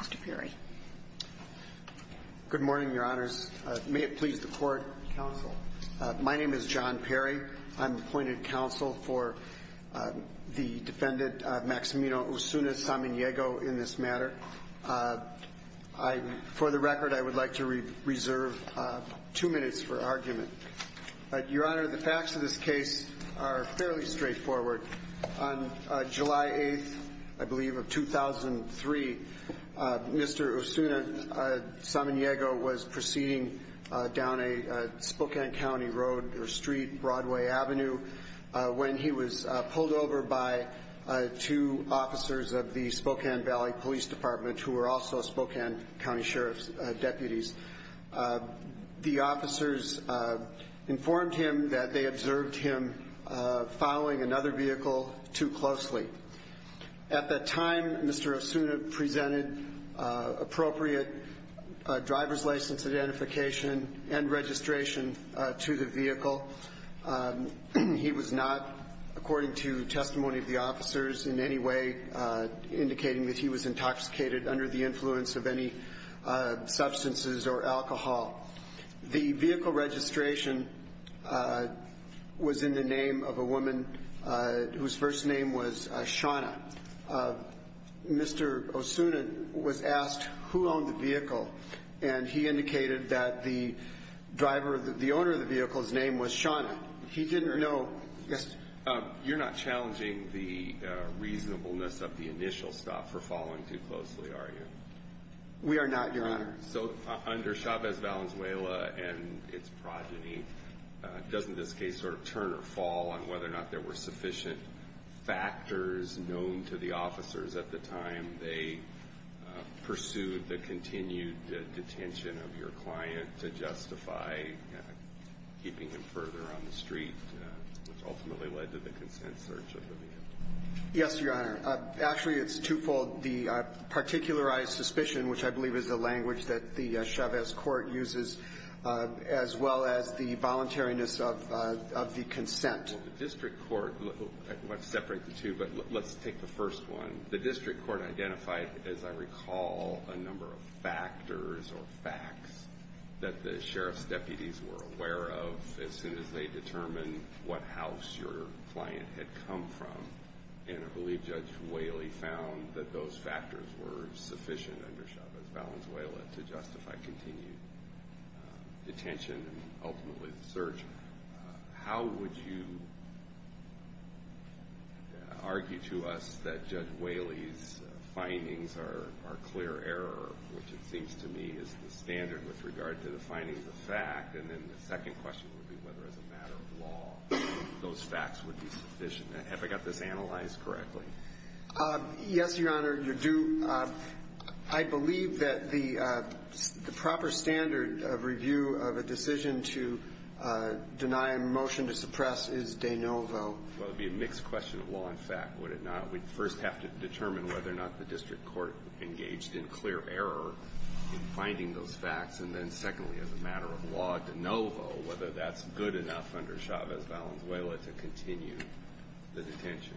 Mr. Perry. Good morning your honors. May it please the court, counsel. My name is John Perry. I'm appointed counsel for the defendant, Maximino Osuna-Samaniego, in this matter. For the record, I would like to reserve two minutes for argument. Your honor, the facts of this case are fairly straightforward. On January 18, Mr. Osuna-Samaniego was proceeding down a Spokane County road or street, Broadway Avenue, when he was pulled over by two officers of the Spokane Valley Police Department, who were also Spokane County Sheriff's deputies. The officers informed him that they observed him following another vehicle too closely. At that time, Mr. Osuna-Samaniego presented appropriate driver's license identification and registration to the vehicle. He was not, according to testimony of the officers, in any way indicating that he was intoxicated under the influence of any substances or alcohol. The vehicle registration was in the name of a woman whose first name was Shawna. Mr. Osuna was asked who owned the vehicle, and he indicated that the driver, the owner of the vehicle's name was Shawna. He didn't know. Yes? You're not challenging the reasonableness of the initial stop for following too closely, are you? We are not, your honor. So under Chavez-Valenzuela and its progeny, doesn't this case sort of turn or fall on whether or not there were sufficient factors known to the officers at the time they pursued the continued detention of your client to justify keeping him further on the street, which ultimately led to the consent search of the vehicle? Yes, your honor. Actually, it's twofold. The particularized suspicion, which I believe is the language that the Chavez Court uses, as well as the voluntariness of the consent. Well, the district court, let's separate the two, but let's take the first one. The district court identified, as I recall, a number of factors or facts that the sheriff's deputies were aware of as soon as they determined what house your client had come from, and I believe Judge Whaley found that those factors were sufficient under Chavez-Valenzuela to justify continued detention and ultimately the search. How would you argue to us that Judge Whaley's findings are clear error, which it seems to me is the standard with regard to the findings of fact, and then the second question would be whether as a matter of law those facts would be sufficient. Have I got this right? The proper standard of review of a decision to deny a motion to suppress is de novo. Well, it would be a mixed question of law and fact, would it not? We'd first have to determine whether or not the district court engaged in clear error in finding those facts, and then secondly, as a matter of law, de novo, whether that's good enough under Chavez-Valenzuela to continue the detention.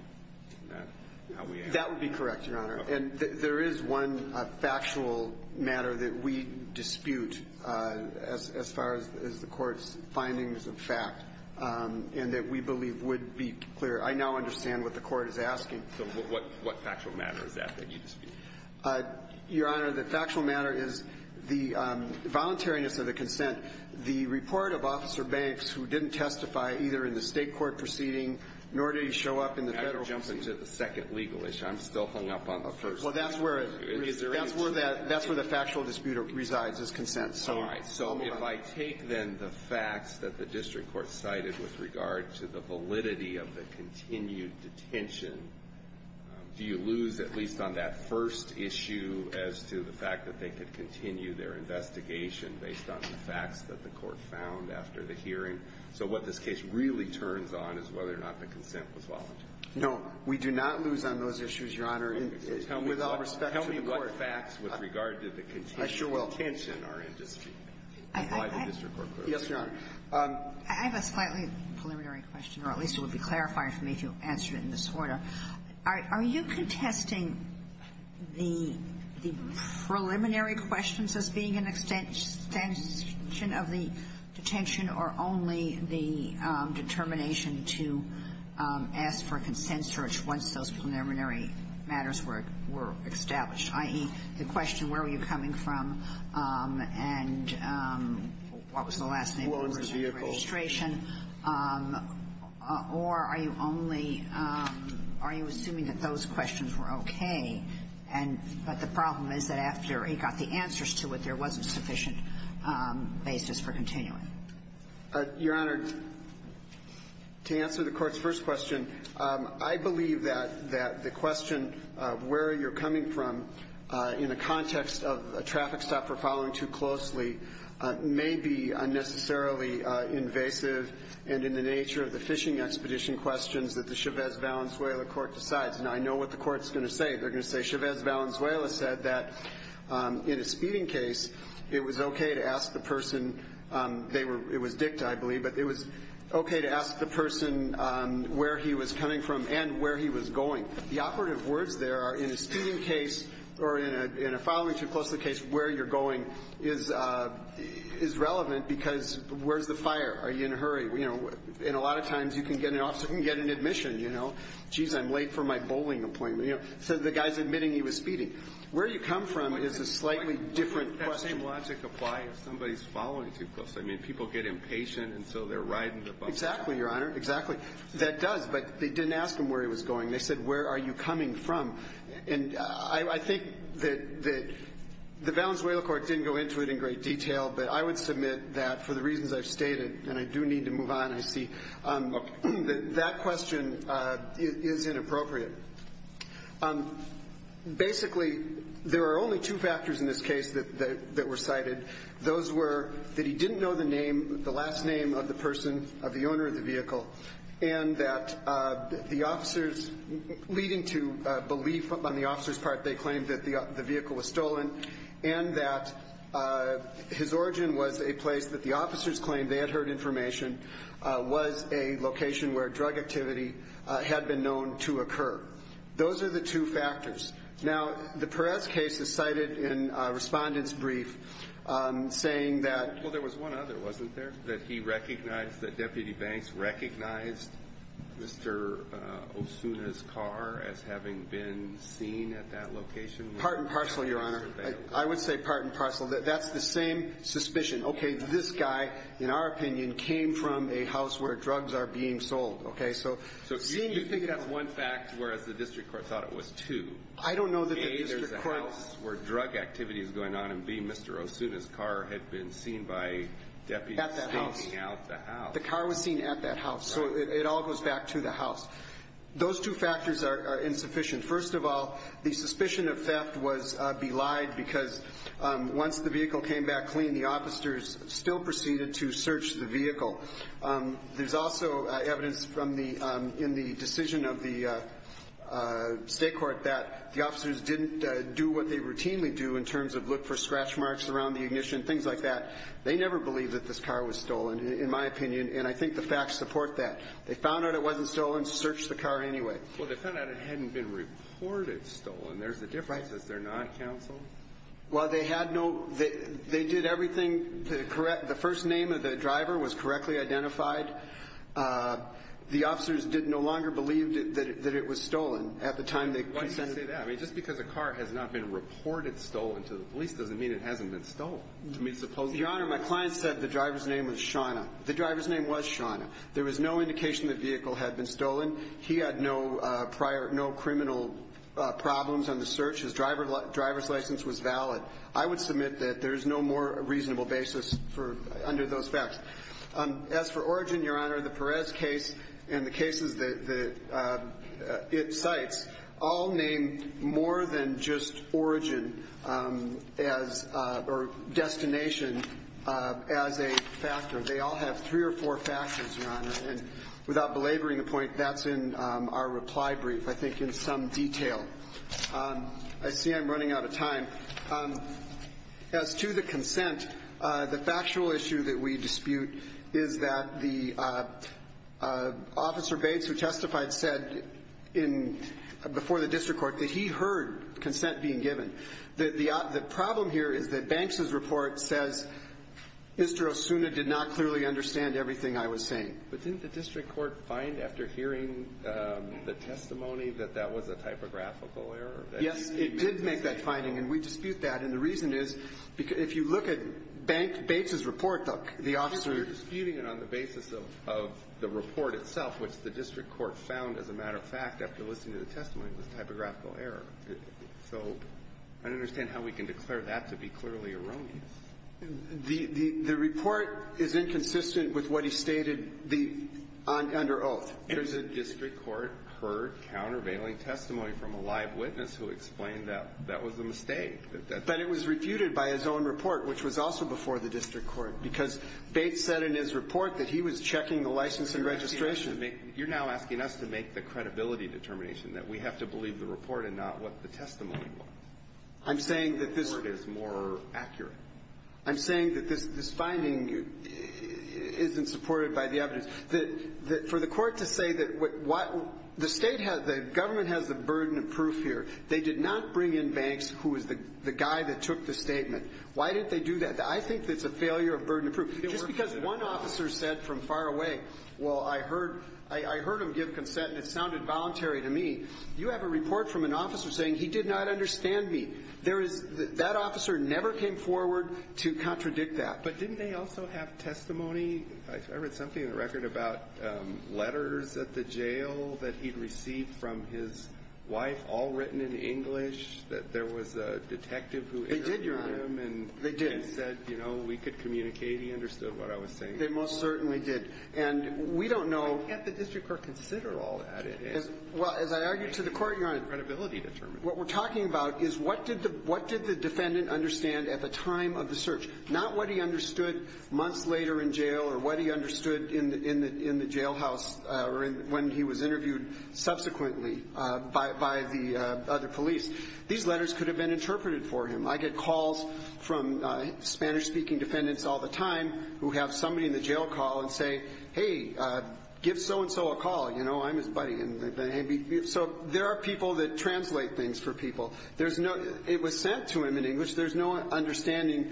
That would be correct, your honor. And there is one factual matter that we dispute as far as the court's findings of fact, and that we believe would be clear. I now understand what the court is asking. So what factual matter is that that you dispute? Your honor, the factual matter is the voluntariness of the consent. The report of Officer Banks, who didn't testify either in the state court proceeding, nor did he show up in the Well, that's where the factual dispute resides, is consent. So if I take, then, the facts that the district court cited with regard to the validity of the continued detention, do you lose, at least on that first issue, as to the fact that they could continue their investigation based on the facts that the court found after the hearing? So what this case really turns on is whether or not the consent was voluntary. No, we do not lose on those issues, your honor. Tell me what facts with regard to the continued detention are in dispute by the district court. Yes, your honor. I have a slightly preliminary question, or at least it would be clarifying for me to answer it in this order. Are you contesting the preliminary questions as being an extension of the detention, or only the determination to ask for a consent search once those preliminary matters were established? I.e., the question, where were you coming from, and what was the last name of the person on the registration? Or are you only, are you assuming that those questions were okay, but the problem is that after he got the answers to it, there wasn't sufficient basis for continuing? Your honor, to answer the court's first question, I believe that the question of where you're coming from in a context of a traffic stop for following too closely may be unnecessarily invasive, and in the nature of the fishing expedition questions that the Chavez-Valenzuela court decides, and I know what the court's going to say. They're going to say Chavez-Valenzuela said that in a speeding case, it was okay to ask the person, it was dicta, I believe, but it was okay to ask the person where he was coming from and where he was going. The operative words there are, in a speeding case, or in a following too closely case, where you're going is relevant because where's the fire? Are you in a hurry? And a lot of times, you can get an officer, you can get an admission, you know, jeez, I'm late for my bowling appointment. So the guy's admitting he was speeding. Where you come from is a slightly different question. Does that same logic apply if somebody's following too closely? I mean, people get impatient, and so they're riding the bus. Exactly, your honor, exactly. That does, but they didn't ask him where he was going. They said, where are you coming from? And I think that the Valenzuela court didn't go into it in great detail, but I would submit that, for the reasons I've stated, and I do need to move on, I see, that question is inappropriate. Basically, there are only two factors in this case that were cited. Those were that he didn't know the name, the last name of the person, of the owner of the vehicle, and that the officers, leading to belief on the officers' part, they claimed that the vehicle was stolen, and that his origin was a place that the officers claimed they had heard information, was a location where drug activity had been known to occur. Those are the two factors. Now, the Perez case is cited in a respondent's brief, saying that... Well, there was one other, wasn't there? That he recognized, that Deputy Banks recognized Mr. Osuna's car as having been seen at that location? Part and parcel, Your Honor. I would say part and parcel. That's the same suspicion. Okay, this guy, in our opinion, came from a house where drugs are being sold. Okay, so... So you think that's one fact, whereas the district court thought it was two? I don't know that the district court... A, there's a house where drug activity is going on, and B, Mr. Osuna's car had been seen by deputies... At that house. ...stealing out the house. The car was seen at that house, so it all goes back to the house. Those two factors are insufficient. First of all, the suspicion of theft was belied because once the vehicle came back clean, the officers still proceeded to search the vehicle. There's also evidence in the decision of the state court that the officers didn't do what they routinely do in terms of look for scratch marks around the ignition, things like that. They never believed that this car was stolen, in my opinion, and I think the facts support that. They found out it wasn't stolen, searched the car anyway. Well, they found out it hadn't been reported stolen. There's a difference. Right. Is there not, counsel? Well, they had no... They did everything... The first name of the driver was correctly identified. The officers no longer believed that it was stolen at the time they... Why do you say that? I mean, just because a car has not been reported stolen to the police doesn't mean it hasn't been stolen. Your Honor, my client said the driver's name was Shawna. The driver's name was Shawna. There was no indication the vehicle had been stolen. He had no criminal problems on the search. His driver's license was valid. I would submit that there's no more reasonable basis under those facts. As for origin, Your Honor, the Perez case and the cases that it cites all named more than just origin or destination as a factor. They all have three or four factors, Your Honor. And without belaboring the point, that's in our reply brief, I think, in some detail. I see I'm running out of time. As to the consent, the factual issue that we dispute is that the Officer Bates who testified said before the district court that he heard consent being given. The problem here is that Banks' report says Mr. Osuna did not clearly understand everything I was saying. But didn't the district court find after hearing the testimony that that was a typographical error? Yes, it did make that finding, and we dispute that. And the reason is, if you look at Banks' report, the Officer... We're disputing it on the basis of the report itself, which the district court found, as a matter of fact, after listening to the testimony, was a typographical error. So I don't understand how we can declare that to be clearly erroneous. The report is inconsistent with what he stated under oath. The district court heard countervailing testimony from a live witness who explained that that was a mistake. But it was refuted by his own report, which was also before the district court, because Bates said in his report that he was checking the license and registration. You're now asking us to make the credibility determination, that we have to believe the report and not what the testimony was. I'm saying that this... Or it is more accurate. I'm saying that this finding isn't supported by the evidence. For the court to say that... The government has the burden of proof here. They did not bring in Banks, who is the guy that took the statement. Why did they do that? I think it's a failure of burden of proof. Just because one officer said from far away, well, I heard him give consent and it sounded voluntary to me. You have a report from an officer saying he did not understand me. That officer never came forward to contradict that. But didn't they also have testimony? I read something in the record about letters at the jail that he'd received from his wife, all written in English, that there was a detective who interviewed him... They did, Your Honor. ...and said, you know, we could communicate. He understood what I was saying. They most certainly did. And we don't know... Can't the district court consider all that? As I argued to the court, Your Honor, What we're talking about is what did the defendant understand at the time of the search? Not what he understood months later in jail or what he understood in the jailhouse when he was interviewed subsequently by the other police. These letters could have been interpreted for him. I get calls from Spanish-speaking defendants all the time who have somebody in the jail call and say, Hey, give so-and-so a call. You know, I'm his buddy. So there are people that translate things for people. It was sent to him in English. There's no understanding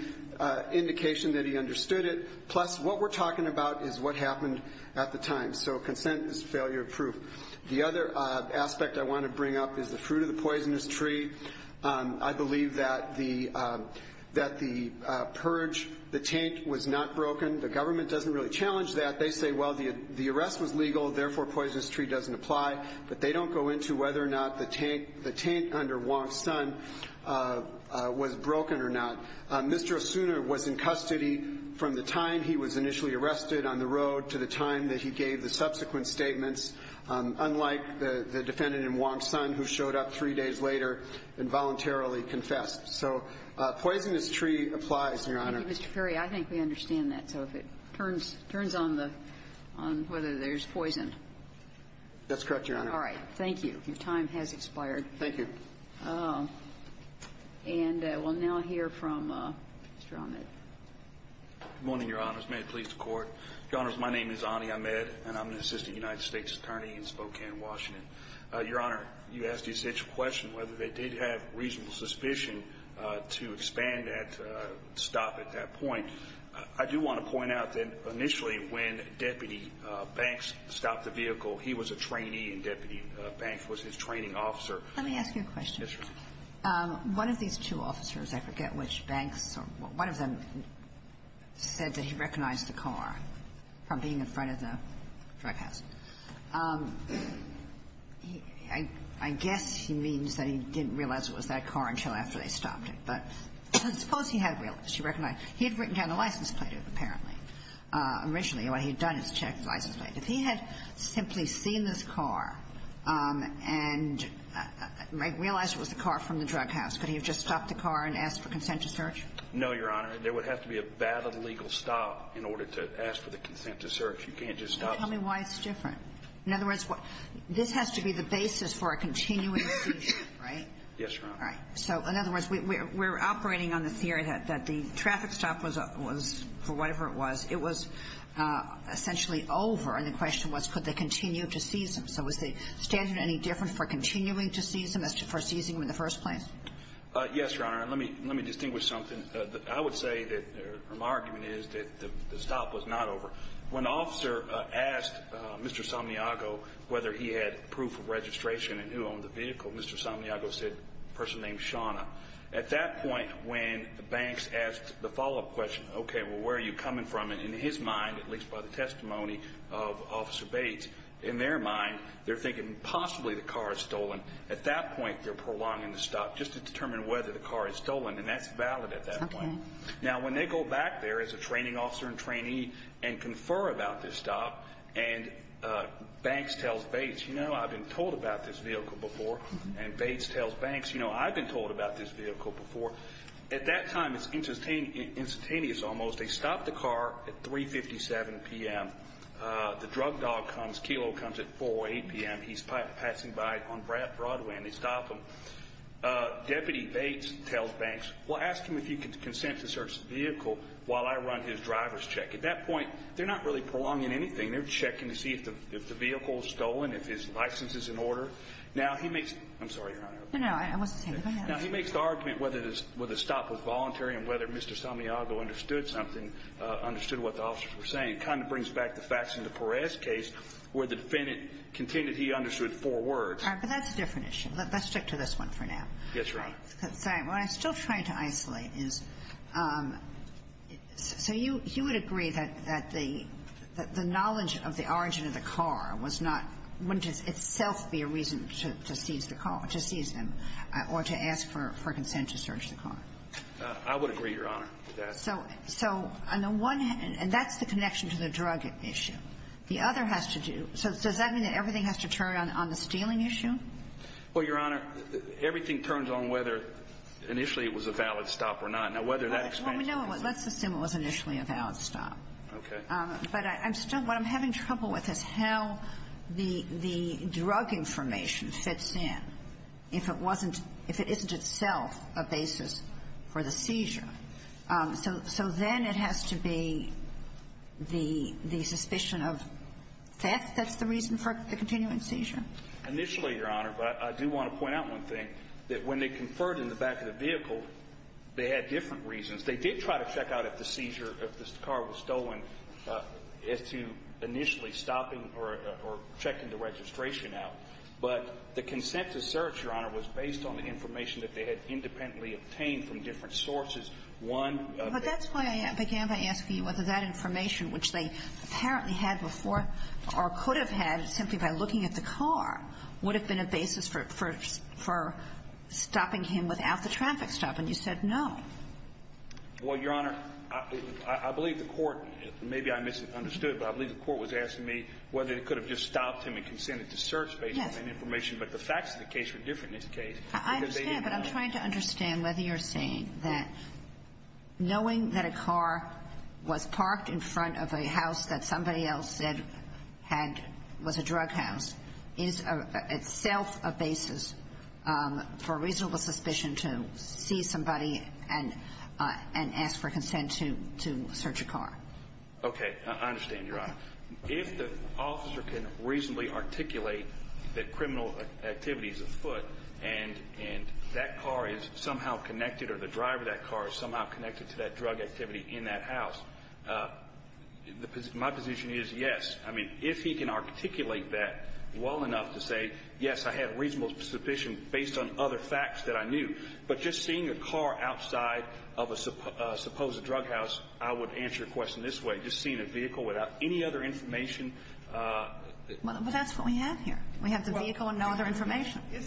indication that he understood it. Plus, what we're talking about is what happened at the time. So consent is failure proof. The other aspect I want to bring up is the fruit of the poisonous tree. I believe that the purge, the taint, was not broken. The government doesn't really challenge that. They say, well, the arrest was legal, therefore poisonous tree doesn't apply. But they don't go into whether or not the taint under Wong's son was broken or not. Mr. Osuna was in custody from the time he was initially arrested on the road to the time that he gave the subsequent statements. Unlike the defendant in Wong's son who showed up three days later and voluntarily confessed. So poisonous tree applies, Your Honor. Thank you, Mr. Perry. I think we understand that. So it turns on whether there's poison. That's correct, Your Honor. All right. Thank you. Your time has expired. Thank you. And we'll now hear from Mr. Ahmed. Good morning, Your Honors. May it please the Court. Your Honors, my name is Ani Ahmed and I'm an assistant United States attorney in Spokane, Washington. Your Honor, you asked the essential question whether they did have reasonable suspicion to expand that stop at that point. I do want to point out that initially when Deputy Banks stopped the vehicle, he was a trainee and Deputy Banks was his training officer. Let me ask you a question. One of these two officers, I forget which banks, one of them said that he recognized the car from being in front of the drug house. I guess he means that he didn't realize it was that car until after they stopped it. But suppose he had realized. He had written down the license plate, apparently. Originally, what he had done is check the license plate. If he had simply seen this car and realized it was the car from the drug house, could he have just stopped the car and asked for consent to search? No, Your Honor. There would have to be a valid legal stop in order to ask for the consent to search. You can't just stop. Can you tell me why it's different? This has to be the basis for a continuing seizure, right? Yes, Your Honor. In other words, we're operating on the theory that the traffic stop was for whatever it was, it was essentially over and the question was could they continue to seize him? So was the statute any different for continuing to seize him than for seizing him in the first place? Yes, Your Honor. Let me distinguish something. I would say that my argument is that the stop was not over. When the officer asked Mr. Somniago whether he had proof of registration and who owned the vehicle, Mr. Somniago said a person named Shawna. At that point, when Banks asked the follow-up question, okay, well, where are you coming from? In his mind, at least by the testimony of Officer Bates, in their mind, they're thinking possibly the car is stolen. At that point, they're prolonging the stop just to determine whether the car is stolen and that's valid at that point. Now, when they go back there as a training officer and trainee and confer about this stop and Banks tells Bates, you know, I've been told about this vehicle before and Bates tells Banks, you know, I've been told about this vehicle before. At that time, it's instantaneous almost. They stop the car at 3.57 p.m. The drug dog comes, Kelo comes at 4.00 or 8.00 p.m. He's passing by on Broadway and they stop him. Deputy Bates tells Banks, well, ask him if he can consent to search the vehicle while I run his driver's check. At that point, they're not really prolonging anything. They're checking to see if the vehicle is stolen, if his license is in order. Now, he makes, I'm sorry, Your Honor. No, no, I wasn't saying that. Now, he makes the argument whether the stop was voluntary and whether Mr. Sanniago understood something, understood what the officers were saying. It kind of brings back the facts in the Perez case where the defendant continued he understood four words. All right, but that's a different issue. Let's stick to this one for now. Yes, Your Honor. What I'm still trying to isolate is so you would agree that the knowledge of the origin of the car wouldn't itself be a reason to seize the car, to seize them or to ask for consent to search the car? I would agree, Your Honor, with that. And that's the connection to the drug issue. The other has to do so does that mean that everything has to turn on the stealing issue? Well, Your Honor, everything turns on whether initially it was a valid stop or not. Now, whether that expansion... Let's assume it was initially a valid stop. But I'm still, what I'm having trouble with is how the drug information fits in if it wasn't, if it isn't itself a basis for the seizure. So then it has to be the suspicion of theft that's the reason for the continuing seizure? Initially, Your Honor, but I do want to point out one thing that when they conferred in the back of the vehicle they had different reasons. They did try to check out if the seizure if the car was stolen as to initially stopping or checking the registration out. But the consent to search, Your Honor, was based on the information that they had independently obtained from different sources. One... But that's why I began by asking you whether that information, which they apparently had before or could have had simply by looking at the car would have been a basis for stopping him without the traffic stop. And you said no. Well, Your Honor, I believe the court, maybe I misunderstood, but I believe the court was asking me whether they could have just stopped him and consented to search based on that information. But the facts of the case were different in this case. I understand, but I'm trying to understand whether you're saying that knowing that a car was parked in front of a house that somebody else said was a drug house is itself a basis for reasonable suspicion to see somebody and ask for consent to search a car. Okay, I understand, Your Honor. If the officer can reasonably articulate that criminal activity is afoot and that car is somehow connected or the driver of that car is somehow connected to that drug activity in that house, my position is yes. If he can articulate that well enough to say, yes, I had reasonable suspicion based on other facts that I knew, but just seeing a car outside of a supposed drug house, I would answer the question this way. Just seeing a vehicle without any other information. But that's what we have here. We have the vehicle and no other information. I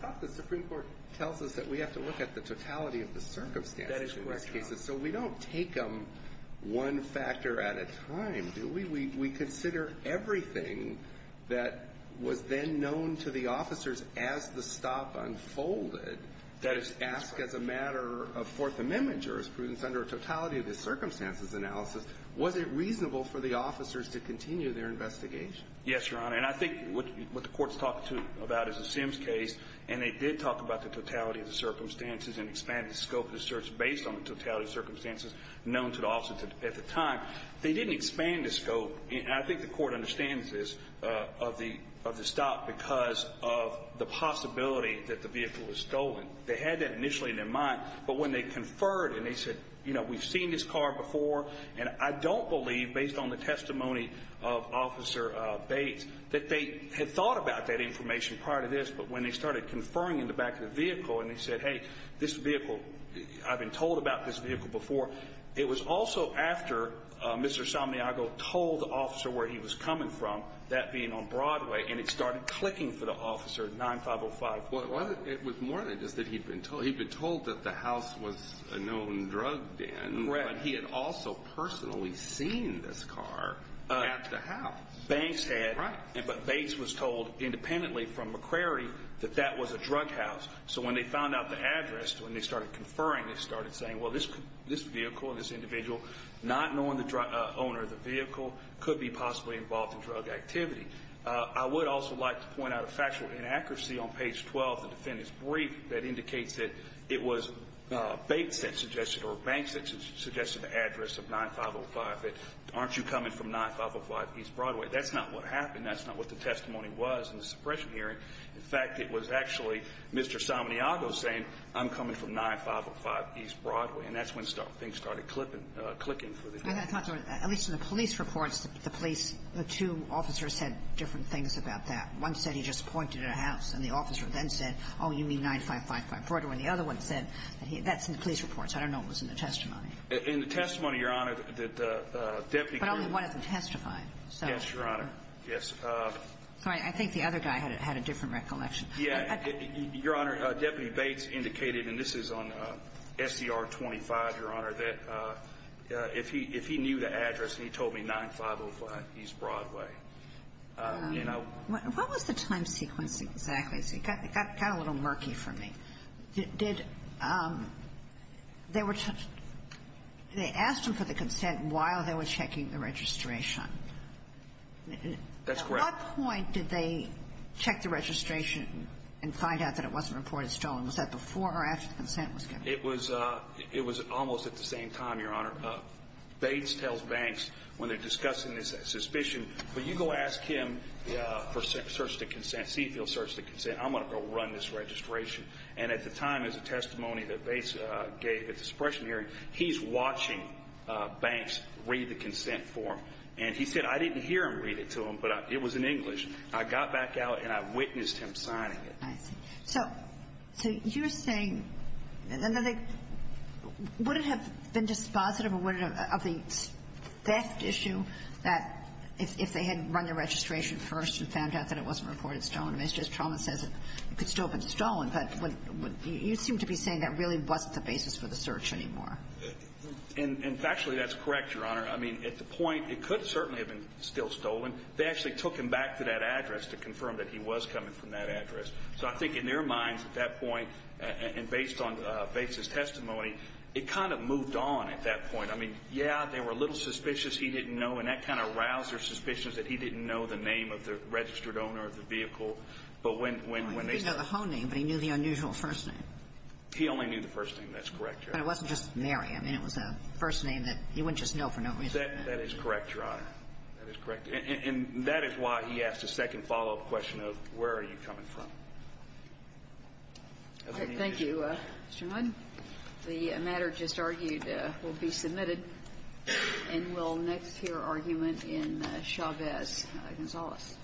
thought the Supreme Court tells us that we have to look at the totality of the circumstances in this case. So we don't take them one factor at a time, do we? We consider everything that was then known to the officers as the stop unfolded. That is asked as a matter of Fourth Amendment jurisprudence under a totality of the circumstances analysis. Was it reasonable for the officers to continue their investigation? Yes, Your Honor, and I think what the Court's talking about is the Sims case, and they did talk about the totality of the circumstances and the scope of the search based on the totality of the circumstances known to the officers at the time. They didn't expand the scope and I think the Court understands this of the stop because of the possibility that the vehicle was stolen. They had that initially in their mind, but when they conferred and they said, you know, we've seen this car before and I don't believe based on the testimony of Officer Bates that they had thought about that information prior to this, but when they started conferring in the back of the vehicle and they said, hey, this vehicle I've been told about this vehicle before it was also after Mr. Somniago told the officer where he was coming from, that being on Broadway, and it started clicking for the officer at 9505. It was more than just that he'd been told that the house was a known drug den, but he had also personally seen this car at the house. Banks had but Bates was told independently from McCrary that that was a drug house, so when they found out the address, when they started conferring, they started saying, well, this vehicle and this individual, not knowing the owner of the vehicle, could be possibly involved in drug activity. I would also like to point out a factual inaccuracy on page 12 of the defendant's brief that indicates that it was Bates that suggested or 9505. Aren't you coming from 9505 East Broadway? That's not what happened. That's not what the testimony was in the suppression hearing. In fact, it was actually Mr. Somniago saying I'm coming from 9505 East Broadway, and that's when things started clicking for the defendant. At least in the police reports, the police the two officers said different things about that. One said he just pointed at a house, and the officer then said, oh, you mean 9555 Broadway, and the other one said that's in the police reports. I don't know what was in the But only one of them testified. Yes, Your Honor. Sorry, I think the other guy had a different recollection. Your Honor, Deputy Bates indicated and this is on SCR 25, Your Honor, that if he knew the address, he told me 9505 East Broadway. What was the time sequence exactly? It got a little murky for me. Did they were they asked him for the consent while they were checking the registration? That's correct. At what point did they check the registration and find out that it wasn't reported stolen? Was that before or after the consent was given? It was almost at the same time, Your Honor. Bates tells Banks when they're discussing this suspicion, will you go ask him to search the consent, see if he'll search the consent? I'm going to go run this registration. And at the time, as a testimony that Bates gave at the suppression hearing, he's watching Banks read the consent form. And he said, I didn't hear him read it to him, but it was in English. I got back out and I witnessed him signing it. So you're saying would it have been dispositive of the theft issue that if they had run their registration first and found out that it wasn't reported stolen? Mr. Estroma says it could still have been stolen, but you seem to be saying that really wasn't the basis for the search anymore. And factually, that's correct, Your Honor. I mean, at the point, it could certainly have been still stolen. They actually took him back to that address to confirm that he was coming from that address. So I think in their minds at that point, and based on Bates' testimony, it kind of moved on at that point. Yeah, they were a little suspicious he didn't know and that kind of roused their suspicions that he didn't know the name of the registered owner of the vehicle. He didn't know the whole name, but he knew the unusual first name. He only knew the first name. That's correct, Your Honor. But it wasn't just Mary. I mean, it was a first name that he wouldn't just know for no reason. That is correct, Your Honor. And that is why he asked a second follow-up question of where are you coming from? Thank you, Mr. Mudd. The matter just argued will be submitted and we'll next hear your argument in Chavez-Gonzalez.